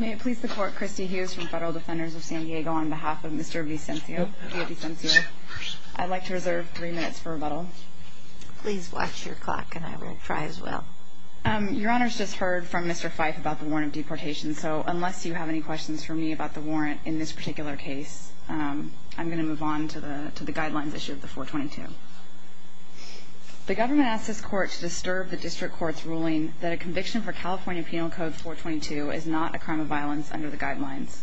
May it please the Court, Christy Hughes from Federal Defenders of San Diego on behalf of Mr. Villavicencio. I'd like to reserve three minutes for rebuttal. Please watch your clock, and I will try as well. Your Honor's just heard from Mr. Fyfe about the warrant of deportation, so unless you have any questions for me about the warrant in this particular case, I'm going to move on to the guidelines issue of the 422. The government asks this Court to disturb the District Court's ruling that a conviction for California Penal Code 422 is not a crime of violence under the guidelines.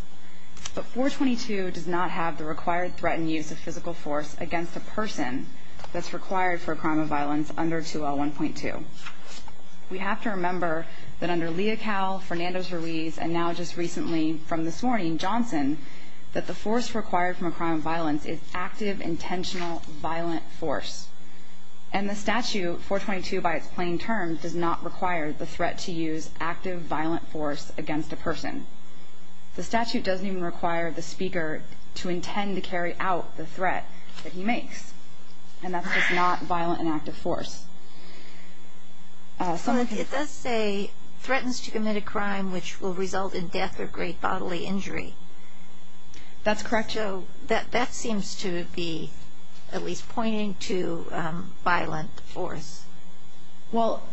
But 422 does not have the required threat and use of physical force against a person that's required for a crime of violence under 2L1.2. We have to remember that under Leocal, Fernando's Ruiz, and now just recently from this morning, Johnson, that the force required from a crime of violence is active, intentional, violent force. And the statute, 422 by its plain terms, does not require the threat to use active, violent force against a person. The statute doesn't even require the speaker to intend to carry out the threat that he makes, and that's just not violent and active force. It does say, threatens to commit a crime which will result in death or great bodily injury. That's correct. So that seems to be at least pointing to violent force. Well,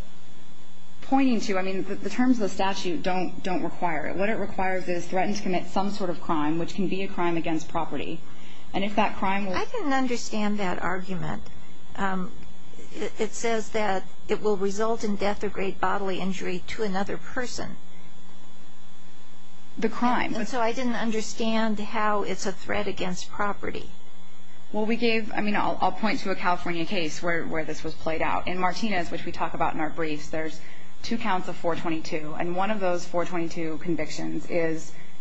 pointing to, I mean, the terms of the statute don't require it. What it requires is threaten to commit some sort of crime, which can be a crime against property. And if that crime was – I didn't understand that argument. It says that it will result in death or great bodily injury to another person. The crime. And so I didn't understand how it's a threat against property. Well, we gave – I mean, I'll point to a California case where this was played out. In Martinez, which we talk about in our briefs, there's two counts of 422, and one of those 422 convictions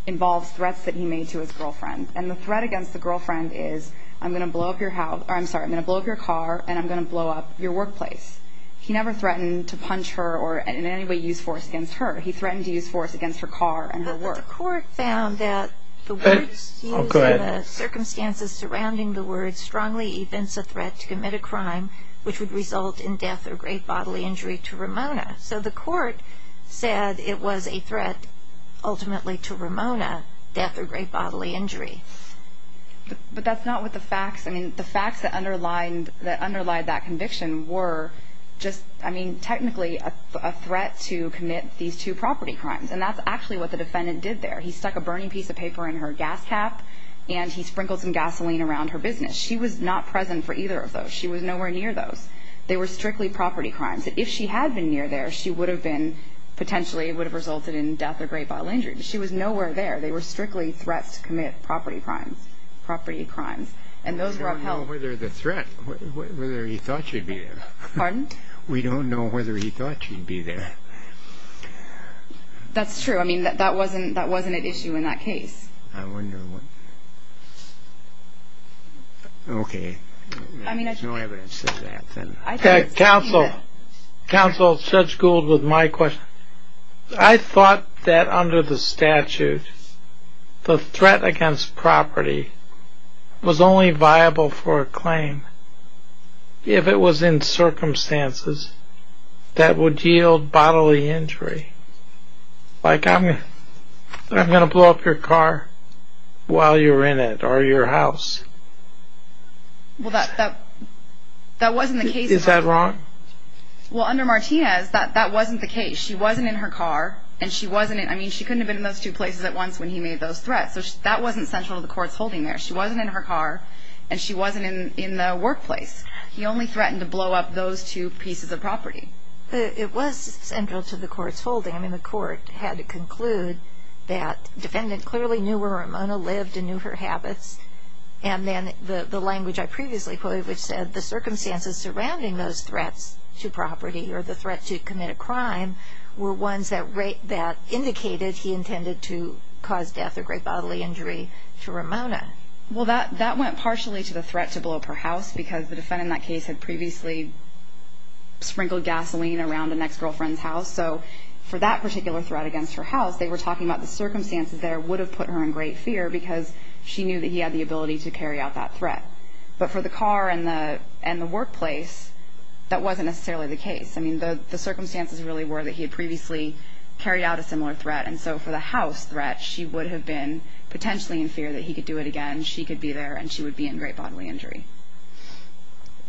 involves threats that he made to his girlfriend. And the threat against the girlfriend is, I'm going to blow up your house – I'm sorry, I'm going to blow up your car and I'm going to blow up your workplace. He never threatened to punch her or in any way use force against her. He threatened to use force against her car and her work. The court found that the words used and the circumstances surrounding the words strongly evince a threat to commit a crime which would result in death or great bodily injury to Ramona. So the court said it was a threat ultimately to Ramona, death or great bodily injury. But that's not what the facts – I mean, the facts that underlined that conviction were just – I mean, technically a threat to commit these two property crimes. And that's actually what the defendant did there. He stuck a burning piece of paper in her gas cap and he sprinkled some gasoline around her business. She was not present for either of those. She was nowhere near those. They were strictly property crimes. If she had been near there, she would have been – potentially it would have resulted in death or great bodily injury. But she was nowhere there. They were strictly threats to commit property crimes. Property crimes. And those were upheld. We don't know whether the threat – whether he thought she'd be there. Pardon? We don't know whether he thought she'd be there. That's true. I mean, that wasn't an issue in that case. I wonder what – okay. There's no evidence to that, then. Counsel, Judge Gould, with my question. I thought that under the statute, the threat against property was only viable for a claim if it was in circumstances that would yield bodily injury. Like, I'm going to blow up your car while you're in it or your house. Well, that wasn't the case. Is that wrong? Well, under Martinez, that wasn't the case. She wasn't in her car and she wasn't – I mean, she couldn't have been in those two places at once when he made those threats. So that wasn't central to the court's holding there. She wasn't in her car and she wasn't in the workplace. He only threatened to blow up those two pieces of property. It was central to the court's holding. I mean, the court had to conclude that the defendant clearly knew where Ramona lived and knew her habits, and then the language I previously quoted, which said the circumstances surrounding those threats to property or the threat to commit a crime were ones that indicated he intended to cause death or great bodily injury to Ramona. Well, that went partially to the threat to blow up her house because the defendant in that case had previously sprinkled gasoline around an ex-girlfriend's house. So for that particular threat against her house, they were talking about the circumstances there would have put her in great fear because she knew that he had the ability to carry out that threat. But for the car and the workplace, that wasn't necessarily the case. I mean, the circumstances really were that he had previously carried out a similar threat, and so for the house threat, she would have been potentially in fear that he could do it again, she could be there, and she would be in great bodily injury.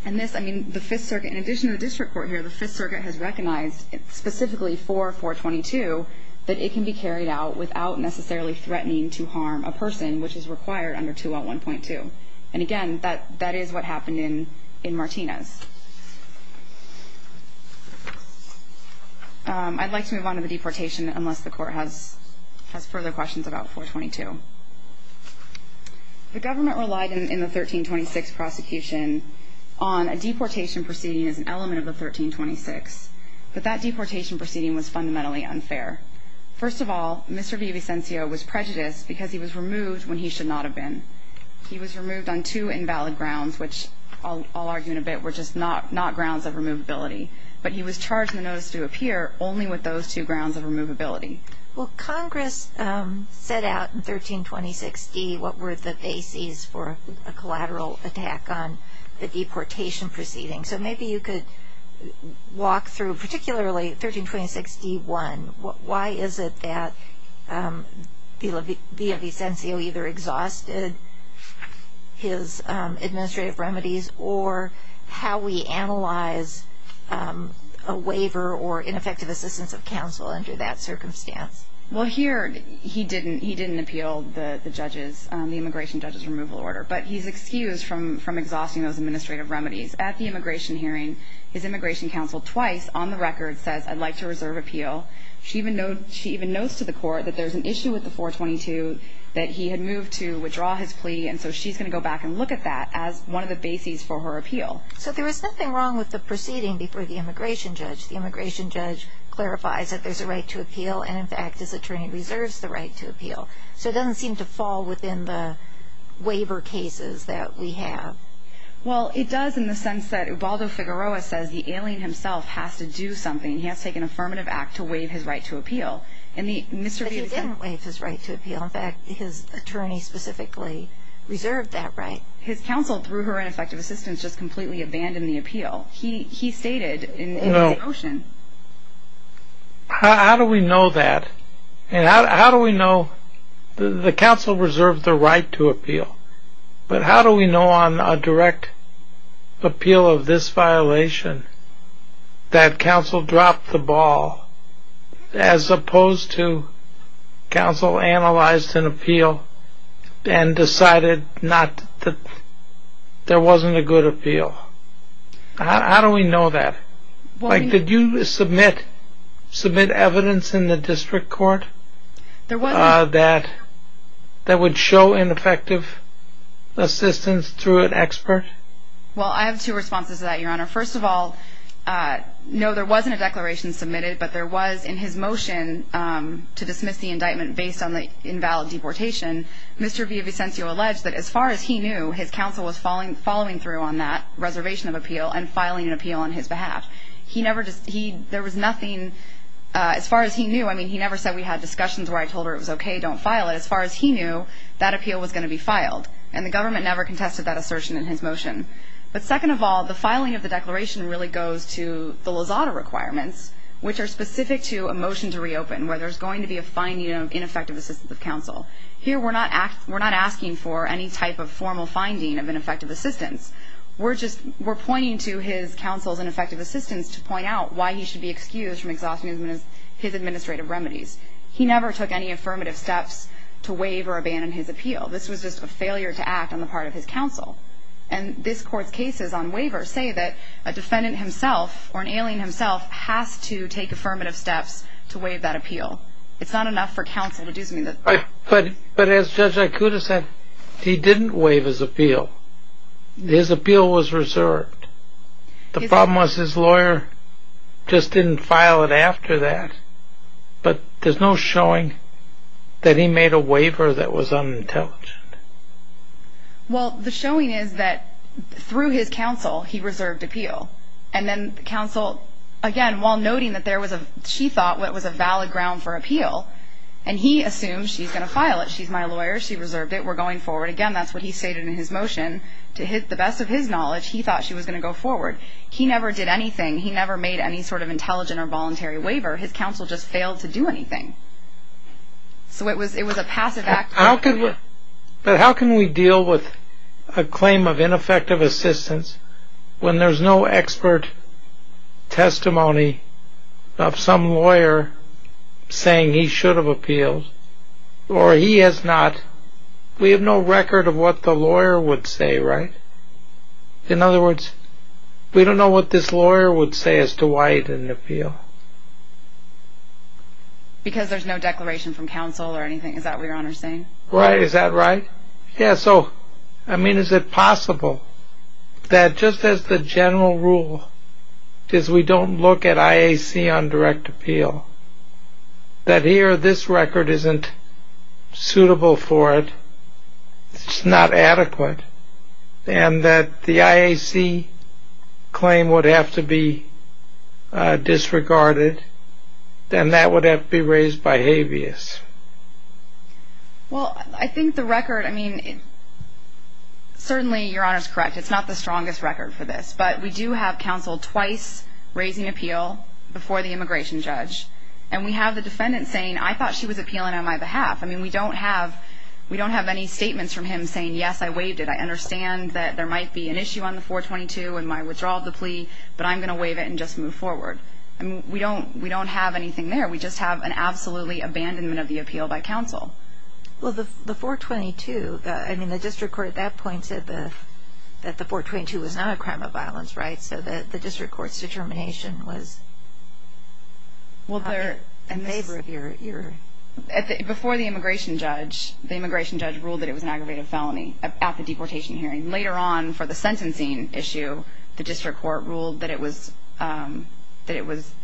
And this, I mean, the Fifth Circuit, in addition to the district court here, the Fifth Circuit has recognized specifically for 422 that it can be carried out without necessarily threatening to harm a person, which is required under 201.2. And again, that is what happened in Martinez. I'd like to move on to the deportation unless the court has further questions about 422. The government relied in the 1326 prosecution on a deportation proceeding as an element of the 1326, but that deportation proceeding was fundamentally unfair. First of all, Mr. Vivicencio was prejudiced because he was removed when he should not have been. He was removed on two invalid grounds, which I'll argue in a bit were just not grounds of removability. But he was charged in the notice to appear only with those two grounds of removability. Well, Congress set out in 1326d what were the bases for a collateral attack on the deportation proceeding. So maybe you could walk through, particularly 1326d.1, why is it that Vivicencio either exhausted his administrative remedies or how we analyze a waiver or ineffective assistance of counsel under that circumstance? Well, here he didn't appeal the immigration judge's removal order, but he's excused from exhausting those administrative remedies. At the immigration hearing, his immigration counsel twice on the record says, I'd like to reserve appeal. She even notes to the court that there's an issue with the 422 that he had moved to withdraw his plea, and so she's going to go back and look at that as one of the bases for her appeal. So there was nothing wrong with the proceeding before the immigration judge. The immigration judge clarifies that there's a right to appeal, and in fact his attorney reserves the right to appeal. So it doesn't seem to fall within the waiver cases that we have. Well, it does in the sense that Ubaldo Figueroa says the alien himself has to do something. He has to take an affirmative act to waive his right to appeal. But he didn't waive his right to appeal. In fact, his attorney specifically reserved that right. His counsel, through her ineffective assistance, just completely abandoned the appeal. He stated in his motion. How do we know that? How do we know the counsel reserved the right to appeal? But how do we know on a direct appeal of this violation that counsel dropped the ball as opposed to counsel analyzed an appeal and decided there wasn't a good appeal? How do we know that? Did you submit evidence in the district court that would show ineffective assistance through an expert? Well, I have two responses to that, Your Honor. First of all, no, there wasn't a declaration submitted, but there was in his motion to dismiss the indictment based on the invalid deportation. Mr. Villavicencio alleged that as far as he knew, his counsel was following through on that reservation of appeal and filing an appeal on his behalf. There was nothing as far as he knew. I mean, he never said we had discussions where I told her it was okay, don't file it. As far as he knew, that appeal was going to be filed, and the government never contested that assertion in his motion. But second of all, the filing of the declaration really goes to the Lozada requirements, which are specific to a motion to reopen where there's going to be a finding of ineffective assistance of counsel. Here we're not asking for any type of formal finding of ineffective assistance. We're just pointing to his counsel's ineffective assistance to point out why he should be excused from exhausting his administrative remedies. He never took any affirmative steps to waive or abandon his appeal. This was just a failure to act on the part of his counsel. And this Court's cases on waivers say that a defendant himself or an alien himself has to take affirmative steps to waive that appeal. It's not enough for counsel to do something like that. But as Judge Aikuda said, he didn't waive his appeal. His appeal was reserved. The problem was his lawyer just didn't file it after that. But there's no showing that he made a waiver that was unintelligent. Well, the showing is that through his counsel, he reserved appeal. And then counsel, again, while noting that there was a – she thought it was a valid ground for appeal, and he assumed she's going to file it. She's my lawyer. She reserved it. We're going forward. Again, that's what he stated in his motion. To the best of his knowledge, he thought she was going to go forward. He never did anything. He never made any sort of intelligent or voluntary waiver. His counsel just failed to do anything. So it was a passive act. But how can we deal with a claim of ineffective assistance when there's no expert testimony of some lawyer saying he should have appealed or he has not – we have no record of what the lawyer would say, right? In other words, we don't know what this lawyer would say as to why he didn't appeal. Because there's no declaration from counsel or anything. Is that what Your Honor is saying? Right. Is that right? Yeah. So, I mean, is it possible that just as the general rule is we don't look at IAC on direct appeal, that here this record isn't suitable for it, it's not adequate, and that the IAC claim would have to be disregarded, and that would have to be raised by habeas? Well, I think the record – I mean, certainly Your Honor is correct. It's not the strongest record for this. But we do have counsel twice raising appeal before the immigration judge. And we have the defendant saying, I thought she was appealing on my behalf. I mean, we don't have any statements from him saying, yes, I waived it. I understand that there might be an issue on the 422 and my withdrawal of the plea, but I'm going to waive it and just move forward. I mean, we don't have anything there. We just have an absolutely abandonment of the appeal by counsel. Well, the 422 – I mean, the district court at that point said that the 422 was not a crime of violence, right, so that the district court's determination was in favor of your – Before the immigration judge, the immigration judge ruled that it was an aggravated felony at the deportation hearing. And later on for the sentencing issue, the district court ruled that it was an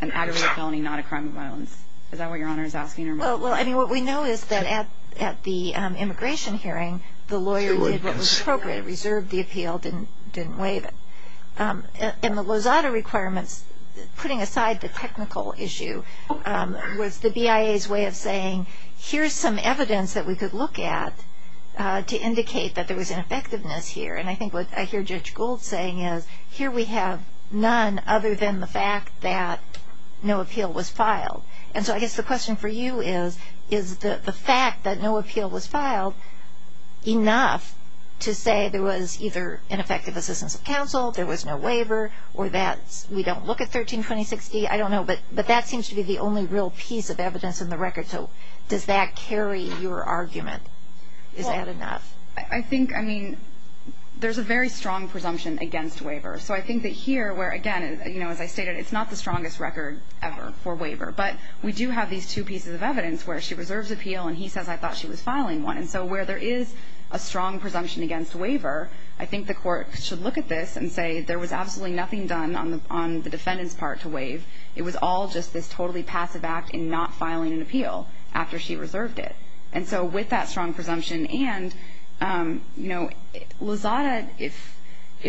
aggravated felony, not a crime of violence. Is that what Your Honor is asking? Well, I mean, what we know is that at the immigration hearing, the lawyer did what was appropriate, reserved the appeal, didn't waive it. And the Lozada requirements, putting aside the technical issue, was the BIA's way of saying, here's some evidence that we could look at to indicate that there was ineffectiveness here. And I think what I hear Judge Gould saying is, here we have none other than the fact that no appeal was filed. And so I guess the question for you is, is the fact that no appeal was filed enough to say there was either ineffective assistance of counsel, there was no waiver, or that we don't look at 132060? I don't know, but that seems to be the only real piece of evidence in the record. So does that carry your argument? Is that enough? I think, I mean, there's a very strong presumption against waiver. So I think that here, where, again, you know, as I stated, it's not the strongest record ever for waiver. But we do have these two pieces of evidence where she reserves appeal and he says, I thought she was filing one. And so where there is a strong presumption against waiver, I think the court should look at this and say, there was absolutely nothing done on the defendant's part to waive. It was all just this totally passive act in not filing an appeal after she reserved it. And so with that strong presumption and, you know, Lozada, if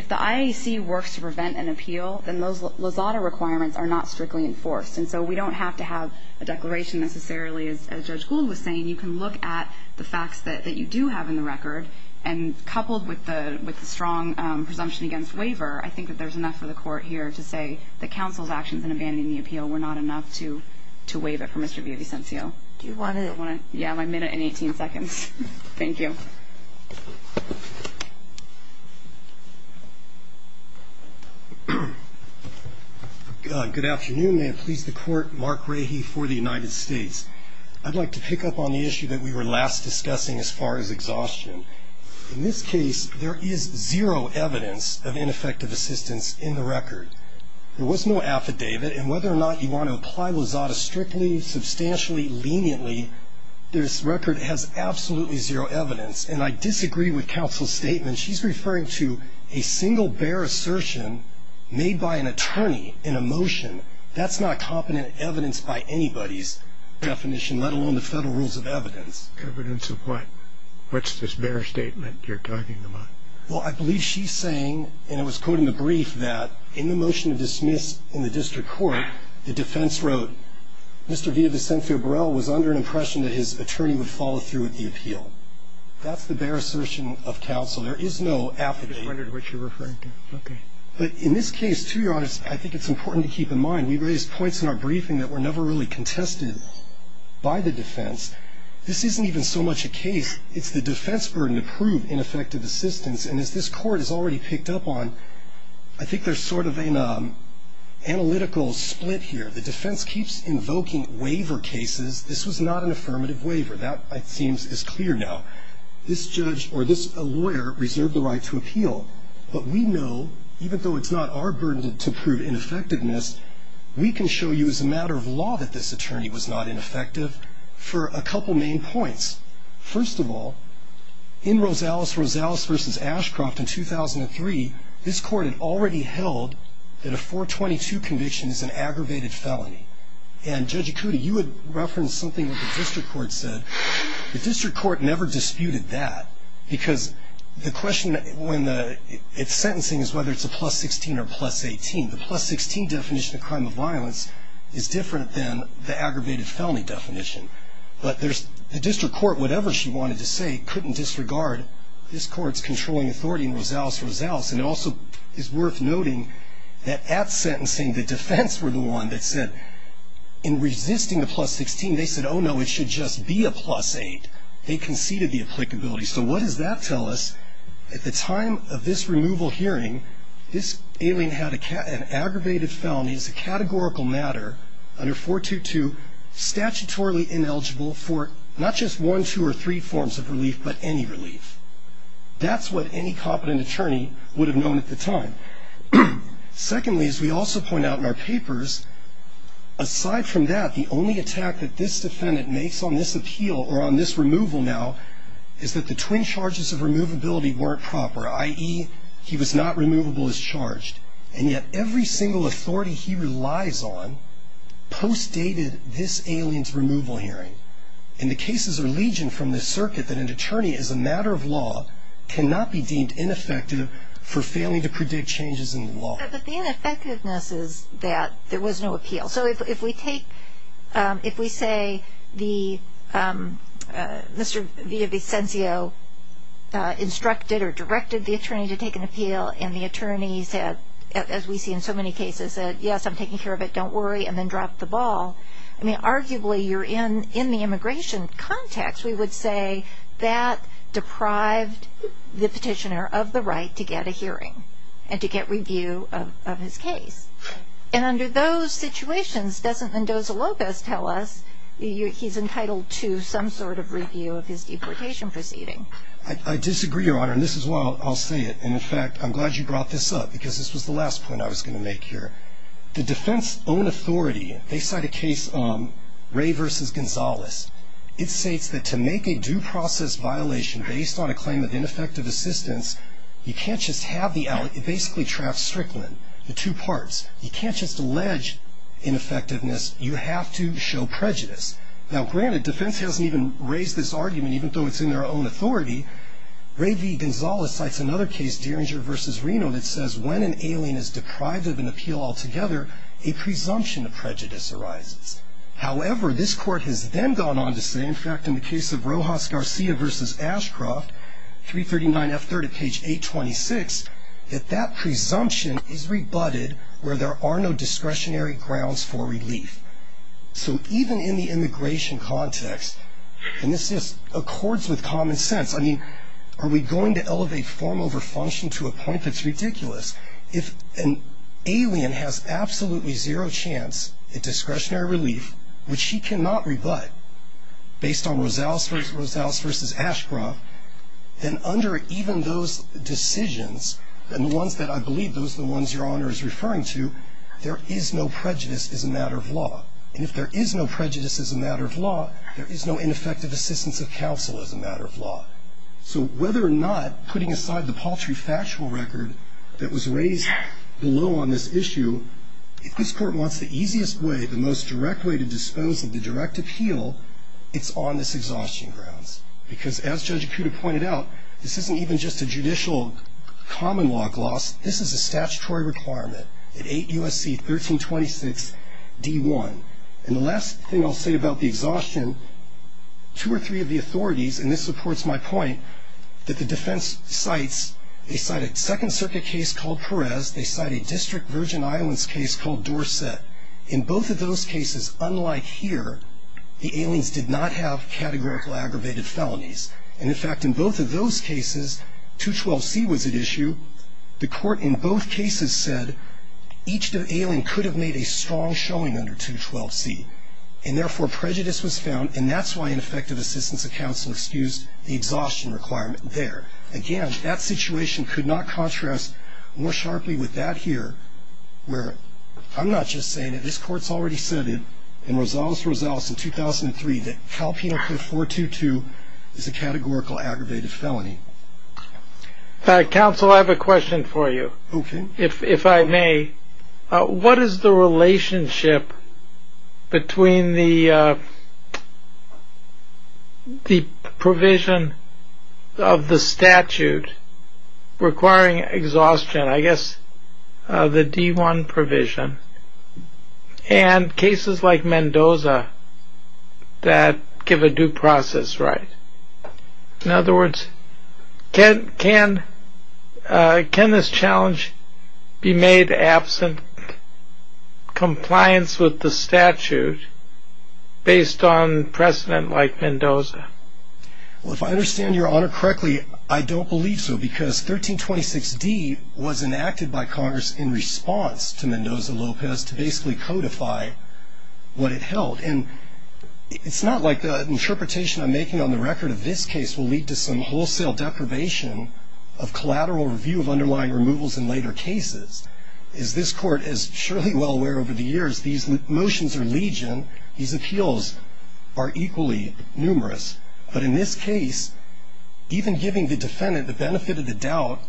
the IAC works to prevent an appeal, then those Lozada requirements are not strictly enforced. And so we don't have to have a declaration necessarily, as Judge Gould was saying. You can look at the facts that you do have in the record. And coupled with the strong presumption against waiver, I think that there's enough for the court here to say that counsel's actions in abandoning the appeal were not enough to waive it for Mr. Villavicencio. Do you want to? Yeah, my minute and 18 seconds. Thank you. Good afternoon. May it please the Court. Mark Rahy for the United States. I'd like to pick up on the issue that we were last discussing as far as exhaustion. In this case, there is zero evidence of ineffective assistance in the record. There was no affidavit. And whether or not you want to apply Lozada strictly, substantially, leniently, this record has absolutely zero evidence. And I disagree with counsel's statement. She's referring to a single, bare assertion made by an attorney in a motion. That's not competent evidence by anybody's definition, let alone the federal rules of evidence. Evidence of what? What's this bare statement you're talking about? Well, I believe she's saying, and it was quoted in the brief, that in the motion to dismiss in the district court, the defense wrote, Mr. Villavicencio Burrell was under an impression that his attorney would follow through with the appeal. That's the bare assertion of counsel. There is no affidavit. I just wondered what you're referring to. Okay. But in this case, to be honest, I think it's important to keep in mind, we raised points in our briefing that were never really contested by the defense. This isn't even so much a case, it's the defense burden to prove ineffective assistance. And as this Court has already picked up on, I think there's sort of an analytical split here. The defense keeps invoking waiver cases. This was not an affirmative waiver. That, it seems, is clear now. This judge or this lawyer reserved the right to appeal. But we know, even though it's not our burden to prove ineffectiveness, we can show you as a matter of law that this attorney was not ineffective for a couple main points. First of all, in Rosales, Rosales v. Ashcroft in 2003, this Court had already held that a 422 conviction is an aggravated felony. And, Judge Ikuti, you had referenced something that the district court said. The district court never disputed that. Because the question when it's sentencing is whether it's a plus 16 or plus 18. The plus 16 definition of crime of violence is different than the aggravated felony definition. But the district court, whatever she wanted to say, couldn't disregard this Court's controlling authority in Rosales, Rosales. And it also is worth noting that at sentencing, the defense were the one that said, in resisting the plus 16, they said, oh, no, it should just be a plus 8. They conceded the applicability. So what does that tell us? At the time of this removal hearing, this alien had an aggravated felony. It's a categorical matter under 422, statutorily ineligible for not just one, two, or three forms of relief, but any relief. That's what any competent attorney would have known at the time. Secondly, as we also point out in our papers, aside from that, the only attack that this defendant makes on this appeal or on this removal now is that the twin charges of removability weren't proper, i.e., he was not removable as charged. And yet every single authority he relies on postdated this alien's removal hearing. And the cases are legion from this circuit that an attorney, as a matter of law, cannot be deemed ineffective for failing to predict changes in the law. But the ineffectiveness is that there was no appeal. So if we say Mr. Villavicencio instructed or directed the attorney to take an appeal and the attorney, as we see in so many cases, said, yes, I'm taking care of it, don't worry, and then dropped the ball, I mean, arguably you're in the immigration context, we would say that deprived the petitioner of the right to get a hearing and to get review of his case. And under those situations, doesn't Endoza-Lopez tell us he's entitled to some sort of review of his deportation proceeding? I disagree, Your Honor, and this is why I'll say it. And, in fact, I'm glad you brought this up because this was the last point I was going to make here. The defense-owned authority, they cite a case, Ray v. Gonzales. It states that to make a due process violation based on a claim of ineffective assistance, you can't just have the, it basically traps Strickland, the two parts. You can't just allege ineffectiveness. You have to show prejudice. Now, granted, defense hasn't even raised this argument, even though it's in their own authority. Ray v. Gonzales cites another case, Derringer v. Reno, that says, when an alien is deprived of an appeal altogether, a presumption of prejudice arises. However, this court has then gone on to say, in fact, in the case of Rojas Garcia v. Ashcroft, 339F30, page 826, that that presumption is rebutted where there are no discretionary grounds for relief. So even in the immigration context, and this just accords with common sense, I mean, are we going to elevate form over function to a point that's ridiculous? If an alien has absolutely zero chance at discretionary relief, which she cannot rebut, based on Rosales v. Ashcroft, then under even those decisions, and the ones that I believe those are the ones Your Honor is referring to, there is no prejudice as a matter of law. And if there is no prejudice as a matter of law, there is no ineffective assistance of counsel as a matter of law. So whether or not putting aside the paltry factual record that was raised below on this issue, if this court wants the easiest way, the most direct way to dispose of the direct appeal, it's on this exhaustion grounds. Because as Judge Acuda pointed out, this isn't even just a judicial common law gloss, this is a statutory requirement at 8 U.S.C. 1326 D1. And the last thing I'll say about the exhaustion, two or three of the authorities, and this supports my point, that the defense cites, they cite a Second Circuit case called Perez, they cite a District Virgin Islands case called Dorset. In both of those cases, unlike here, the aliens did not have categorical aggravated felonies. And in fact, in both of those cases, 212C was at issue. The court in both cases said each alien could have made a strong showing under 212C. And therefore, prejudice was found, and that's why ineffective assistance of counsel excused the exhaustion requirement there. Again, that situation could not contrast more sharply with that here, where I'm not just saying that this court's already said in Rosales-Rosales in 2003 that Cal Penal Code 422 is a categorical aggravated felony. Counsel, I have a question for you. Okay. If I may, what is the relationship between the provision of the statute requiring exhaustion, I guess the D1 provision, and cases like Mendoza that give a due process right? In other words, can this challenge be made absent, compliance with the statute based on precedent like Mendoza? Well, if I understand your honor correctly, I don't believe so, because 1326D was enacted by Congress in response to Mendoza-Lopez to basically codify what it held. And it's not like the interpretation I'm making on the record of this case will lead to some wholesale deprivation of collateral review of underlying removals in later cases. As this court is surely well aware over the years, these motions are legion. These appeals are equally numerous. But in this case, even giving the defendant the benefit of the doubt,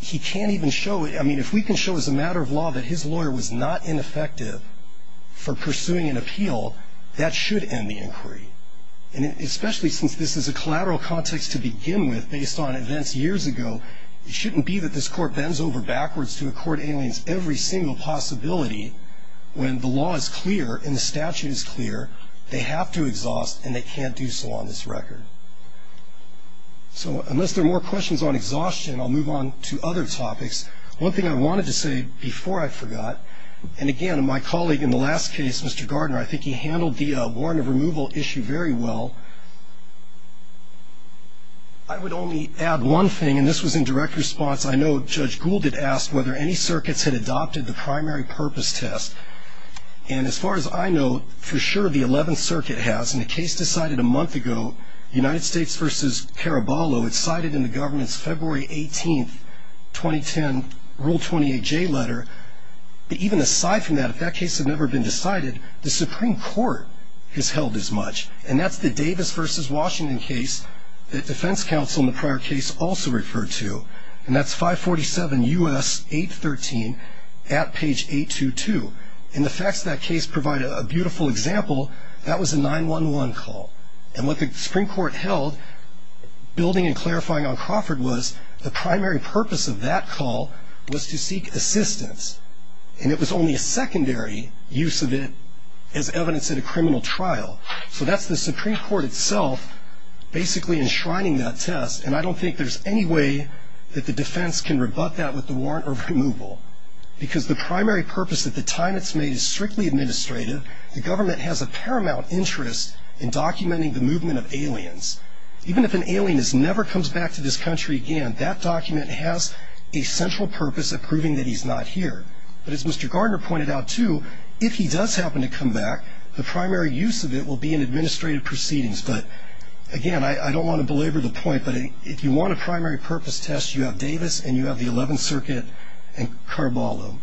he can't even show it. I mean, if we can show as a matter of law that his lawyer was not ineffective for pursuing an appeal, that should end the inquiry. And especially since this is a collateral context to begin with based on events years ago, it shouldn't be that this court bends over backwards to accord aliens every single possibility when the law is clear and the statute is clear, they have to exhaust and they can't do so on this record. So unless there are more questions on exhaustion, I'll move on to other topics. One thing I wanted to say before I forgot, and again, my colleague in the last case, Mr. Gardner, I think he handled the warrant of removal issue very well. I would only add one thing, and this was in direct response. I know Judge Gould had asked whether any circuits had adopted the primary purpose test. And as far as I know, for sure the 11th Circuit has. And the case decided a month ago, United States v. Caraballo. It's cited in the government's February 18, 2010, Rule 28J letter. But even aside from that, if that case had never been decided, the Supreme Court has held as much. And that's the Davis v. Washington case that defense counsel in the prior case also referred to. And that's 547 U.S. 813 at page 822. And the facts of that case provide a beautiful example. That was a 911 call. And what the Supreme Court held, building and clarifying on Crawford, was the primary purpose of that call was to seek assistance. And it was only a secondary use of it as evidence in a criminal trial. So that's the Supreme Court itself basically enshrining that test. And I don't think there's any way that the defense can rebut that with the warrant of removal. Because the primary purpose at the time it's made is strictly administrative. The government has a paramount interest in documenting the movement of aliens. Even if an alien never comes back to this country again, that document has a central purpose of proving that he's not here. But as Mr. Gardner pointed out too, if he does happen to come back, the primary use of it will be in administrative proceedings. But again, I don't want to belabor the point, but if you want a primary purpose test, you have Davis and you have the 11th Circuit and Caraballo.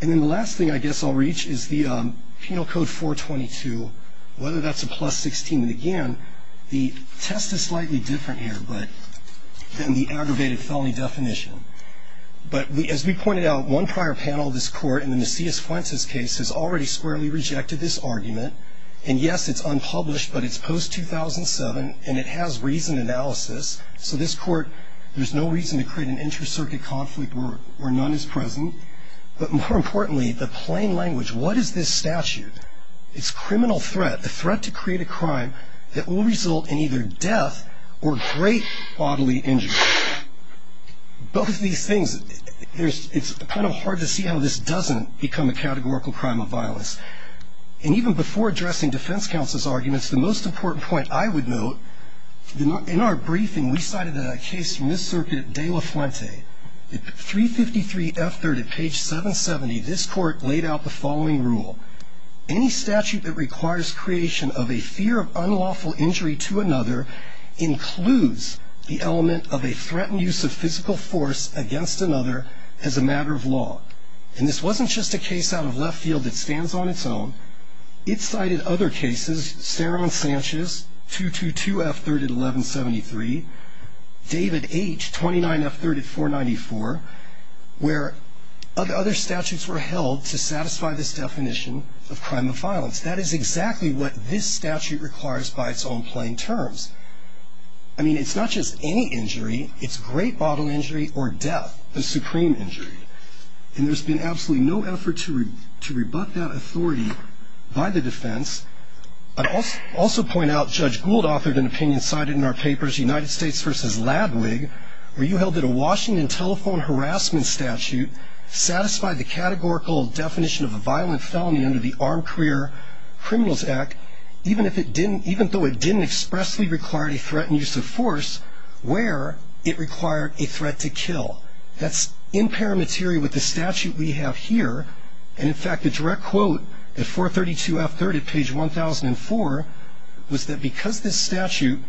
And then the last thing I guess I'll reach is the Penal Code 422, whether that's a plus 16. And again, the test is slightly different here than the aggravated felony definition. But as we pointed out, one prior panel of this court in the Macias-Fuentes case has already squarely rejected this argument. And yes, it's unpublished, but it's post-2007 and it has reasoned analysis. So this court, there's no reason to create an inter-circuit conflict where none is present. But more importantly, the plain language, what is this statute? It's criminal threat, the threat to create a crime that will result in either death or great bodily injury. Both of these things, it's kind of hard to see how this doesn't become a categorical crime of violence. And even before addressing defense counsel's arguments, the most important point I would note, in our briefing, we cited a case from this circuit, De La Fuente. At 353 F3rd at page 770, this court laid out the following rule. Any statute that requires creation of a fear of unlawful injury to another includes the element of a threatened use of physical force against another as a matter of law. And this wasn't just a case out of left field that stands on its own. It cited other cases, Saron Sanchez, 222 F3rd at 1173, David H., 29 F3rd at 494, where other statutes were held to satisfy this definition of crime of violence. That is exactly what this statute requires by its own plain terms. I mean, it's not just any injury, it's great bodily injury or death, the supreme injury. And there's been absolutely no effort to rebut that authority by the defense. I'd also point out Judge Gould authored an opinion cited in our papers, United States v. Ladwig, where you held that a Washington telephone harassment statute satisfied the categorical definition of a violent felony under the Armed Career Criminals Act, even though it didn't expressly require a threatened use of force where it required a threat to kill. That's in paramateria with the statute we have here. And, in fact, the direct quote at 432 F3rd at page 1004 was that because this statute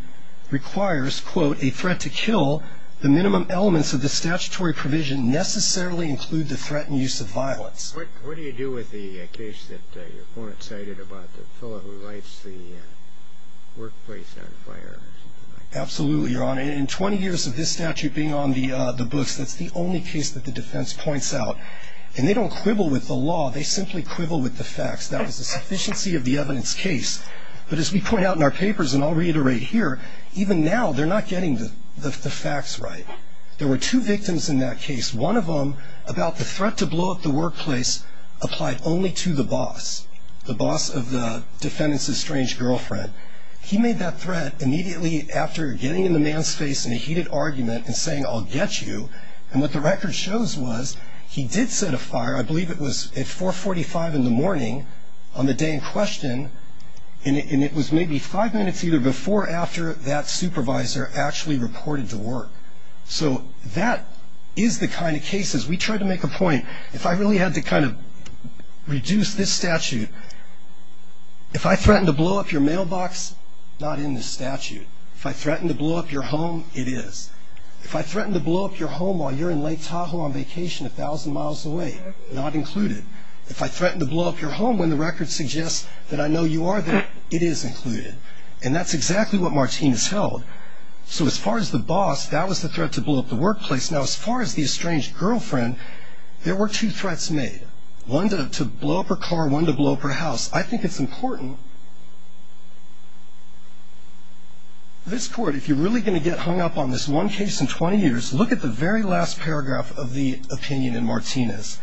requires, quote, a threat to kill, the minimum elements of the statutory provision necessarily include the threatened use of violence. What do you do with the case that your opponent cited about the fellow who writes the workplace notifier? Absolutely, Your Honor. In 20 years of this statute being on the books, that's the only case that the defense points out. And they don't quibble with the law, they simply quibble with the facts. That was the sufficiency of the evidence case. But as we point out in our papers, and I'll reiterate here, even now they're not getting the facts right. There were two victims in that case. One of them, about the threat to blow up the workplace, applied only to the boss, the boss of the defendant's estranged girlfriend. He made that threat immediately after getting in the man's face in a heated argument and saying, I'll get you. And what the record shows was he did set a fire, I believe it was at 445 in the morning on the day in question, and it was maybe five minutes either before or after that supervisor actually reported to work. So that is the kind of case, as we try to make a point, if I really had to kind of reduce this statute, if I threatened to blow up your mailbox, not in the statute. If I threatened to blow up your home, it is. If I threatened to blow up your home while you're in Lake Tahoe on vacation a thousand miles away, not included. If I threatened to blow up your home when the record suggests that I know you are there, it is included. And that's exactly what Martinez held. So as far as the boss, that was the threat to blow up the workplace. Now, as far as the estranged girlfriend, there were two threats made. One to blow up her car, one to blow up her house. I think it's important, this court, if you're really going to get hung up on this one case in 20 years, look at the very last paragraph of the opinion in Martinez.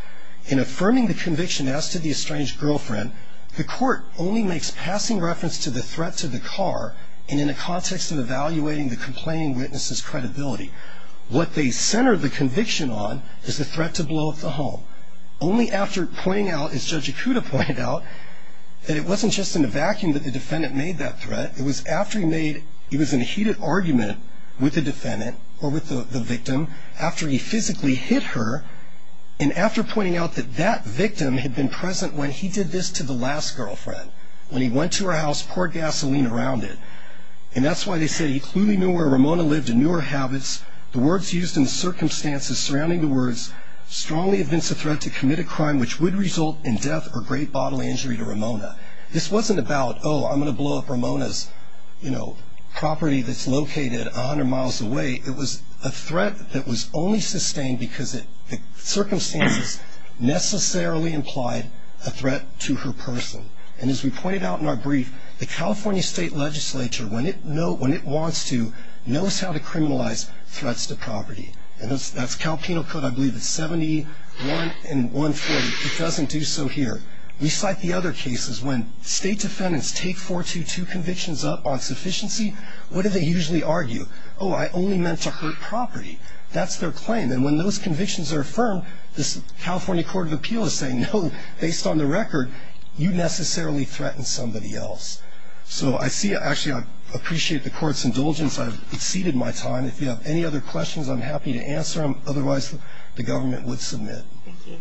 In affirming the conviction as to the estranged girlfriend, the court only makes passing reference to the threat to the car and in the context of evaluating the complaining witness's credibility. What they centered the conviction on is the threat to blow up the home. Only after pointing out, as Judge Ikuda pointed out, that it wasn't just in a vacuum that the defendant made that threat. It was after he made, he was in a heated argument with the defendant or with the victim, after he physically hit her and after pointing out that that victim had been present when he did this to the last girlfriend, when he went to her house, poured gasoline around it. And that's why they said he clearly knew where Ramona lived and knew her habits. The words used in the circumstances surrounding the words, strongly evince a threat to commit a crime which would result in death or great bodily injury to Ramona. This wasn't about, oh, I'm going to blow up Ramona's property that's located 100 miles away. It was a threat that was only sustained because the circumstances necessarily implied a threat to her person. And as we pointed out in our brief, the California State Legislature, when it wants to, knows how to criminalize threats to property. And that's Cal Penal Code, I believe it's 71 and 140. It doesn't do so here. We cite the other cases when state defendants take 422 convictions up on sufficiency, what do they usually argue? Oh, I only meant to hurt property. That's their claim. And when those convictions are affirmed, this California Court of Appeal is saying, no, based on the record, you necessarily threatened somebody else. So I see, actually, I appreciate the court's indulgence. I've exceeded my time. If you have any other questions, I'm happy to answer them. Otherwise, the government would submit. Thank you.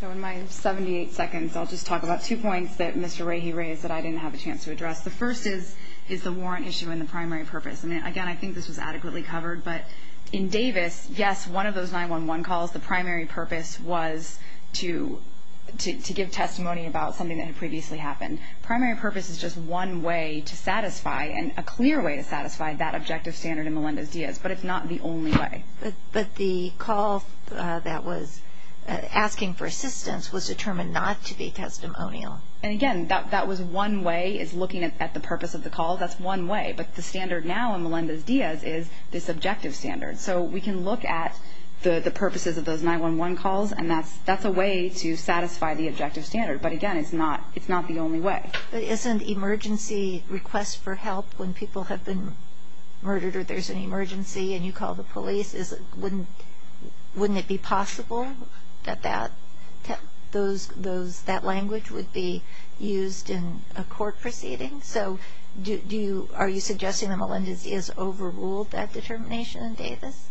So in my 78 seconds, I'll just talk about two points that Mr. Rahe raised that I didn't have a chance to address. The first is the warrant issue and the primary purpose. And, again, I think this was adequately covered. But in Davis, yes, one of those 911 calls, the primary purpose was to give testimony about something that had previously happened. Primary purpose is just one way to satisfy and a clear way to satisfy that objective standard in Melendez-Diaz, but it's not the only way. But the call that was asking for assistance was determined not to be testimonial. And, again, that was one way is looking at the purpose of the call. That's one way. But the standard now in Melendez-Diaz is this objective standard. So we can look at the purposes of those 911 calls, and that's a way to satisfy the objective standard. But, again, it's not the only way. But isn't emergency request for help when people have been murdered or there's an emergency and you call the police? Wouldn't it be possible that that language would be used in a court proceeding? So are you suggesting that Melendez-Diaz overruled that determination in Davis?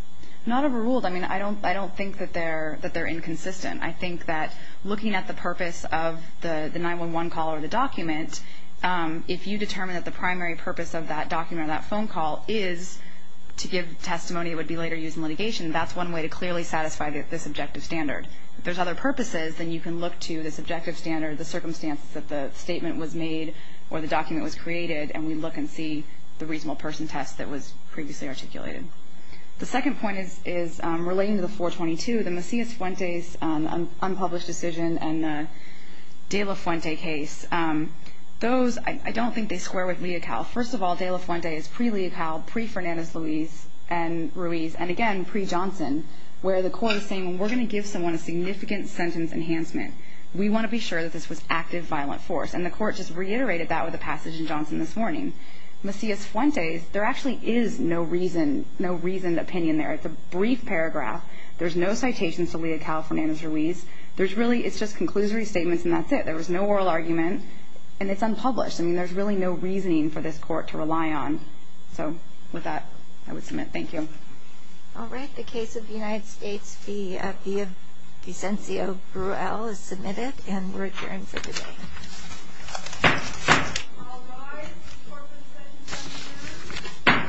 Not overruled. I mean, I don't think that they're inconsistent. I think that looking at the purpose of the 911 call or the document, if you determine that the primary purpose of that document or that phone call is to give testimony that would be later used in litigation, that's one way to clearly satisfy this objective standard. If there's other purposes, then you can look to this objective standard, the circumstances that the statement was made or the document was created, and we look and see the reasonable person test that was previously articulated. The second point is relating to the 422, the Macias-Fuentes unpublished decision and the De La Fuente case. Those, I don't think they square with Leocal. First of all, De La Fuente is pre-Leocal, pre-Fernandez-Ruiz, and, again, pre-Johnson, where the court is saying we're going to give someone a significant sentence enhancement. We want to be sure that this was active violent force, and the court just reiterated that with a passage in Johnson this morning. Macias-Fuentes, there actually is no reasoned opinion there. It's a brief paragraph. There's no citations to Leocal, Fernandez-Ruiz. It's just conclusory statements, and that's it. There was no oral argument, and it's unpublished. I mean, there's really no reasoning for this court to rely on. So with that, I would submit thank you. All right. The case of the United States v. Vicencio Bruel is submitted, and we're adjourned for today. All rise. Court will begin in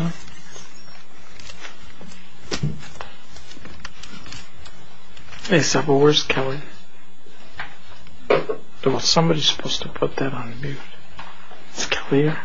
ten minutes. Kelly? Hey, Several, where's Kelly? Somebody's supposed to put that on mute. Is Kelly here? No.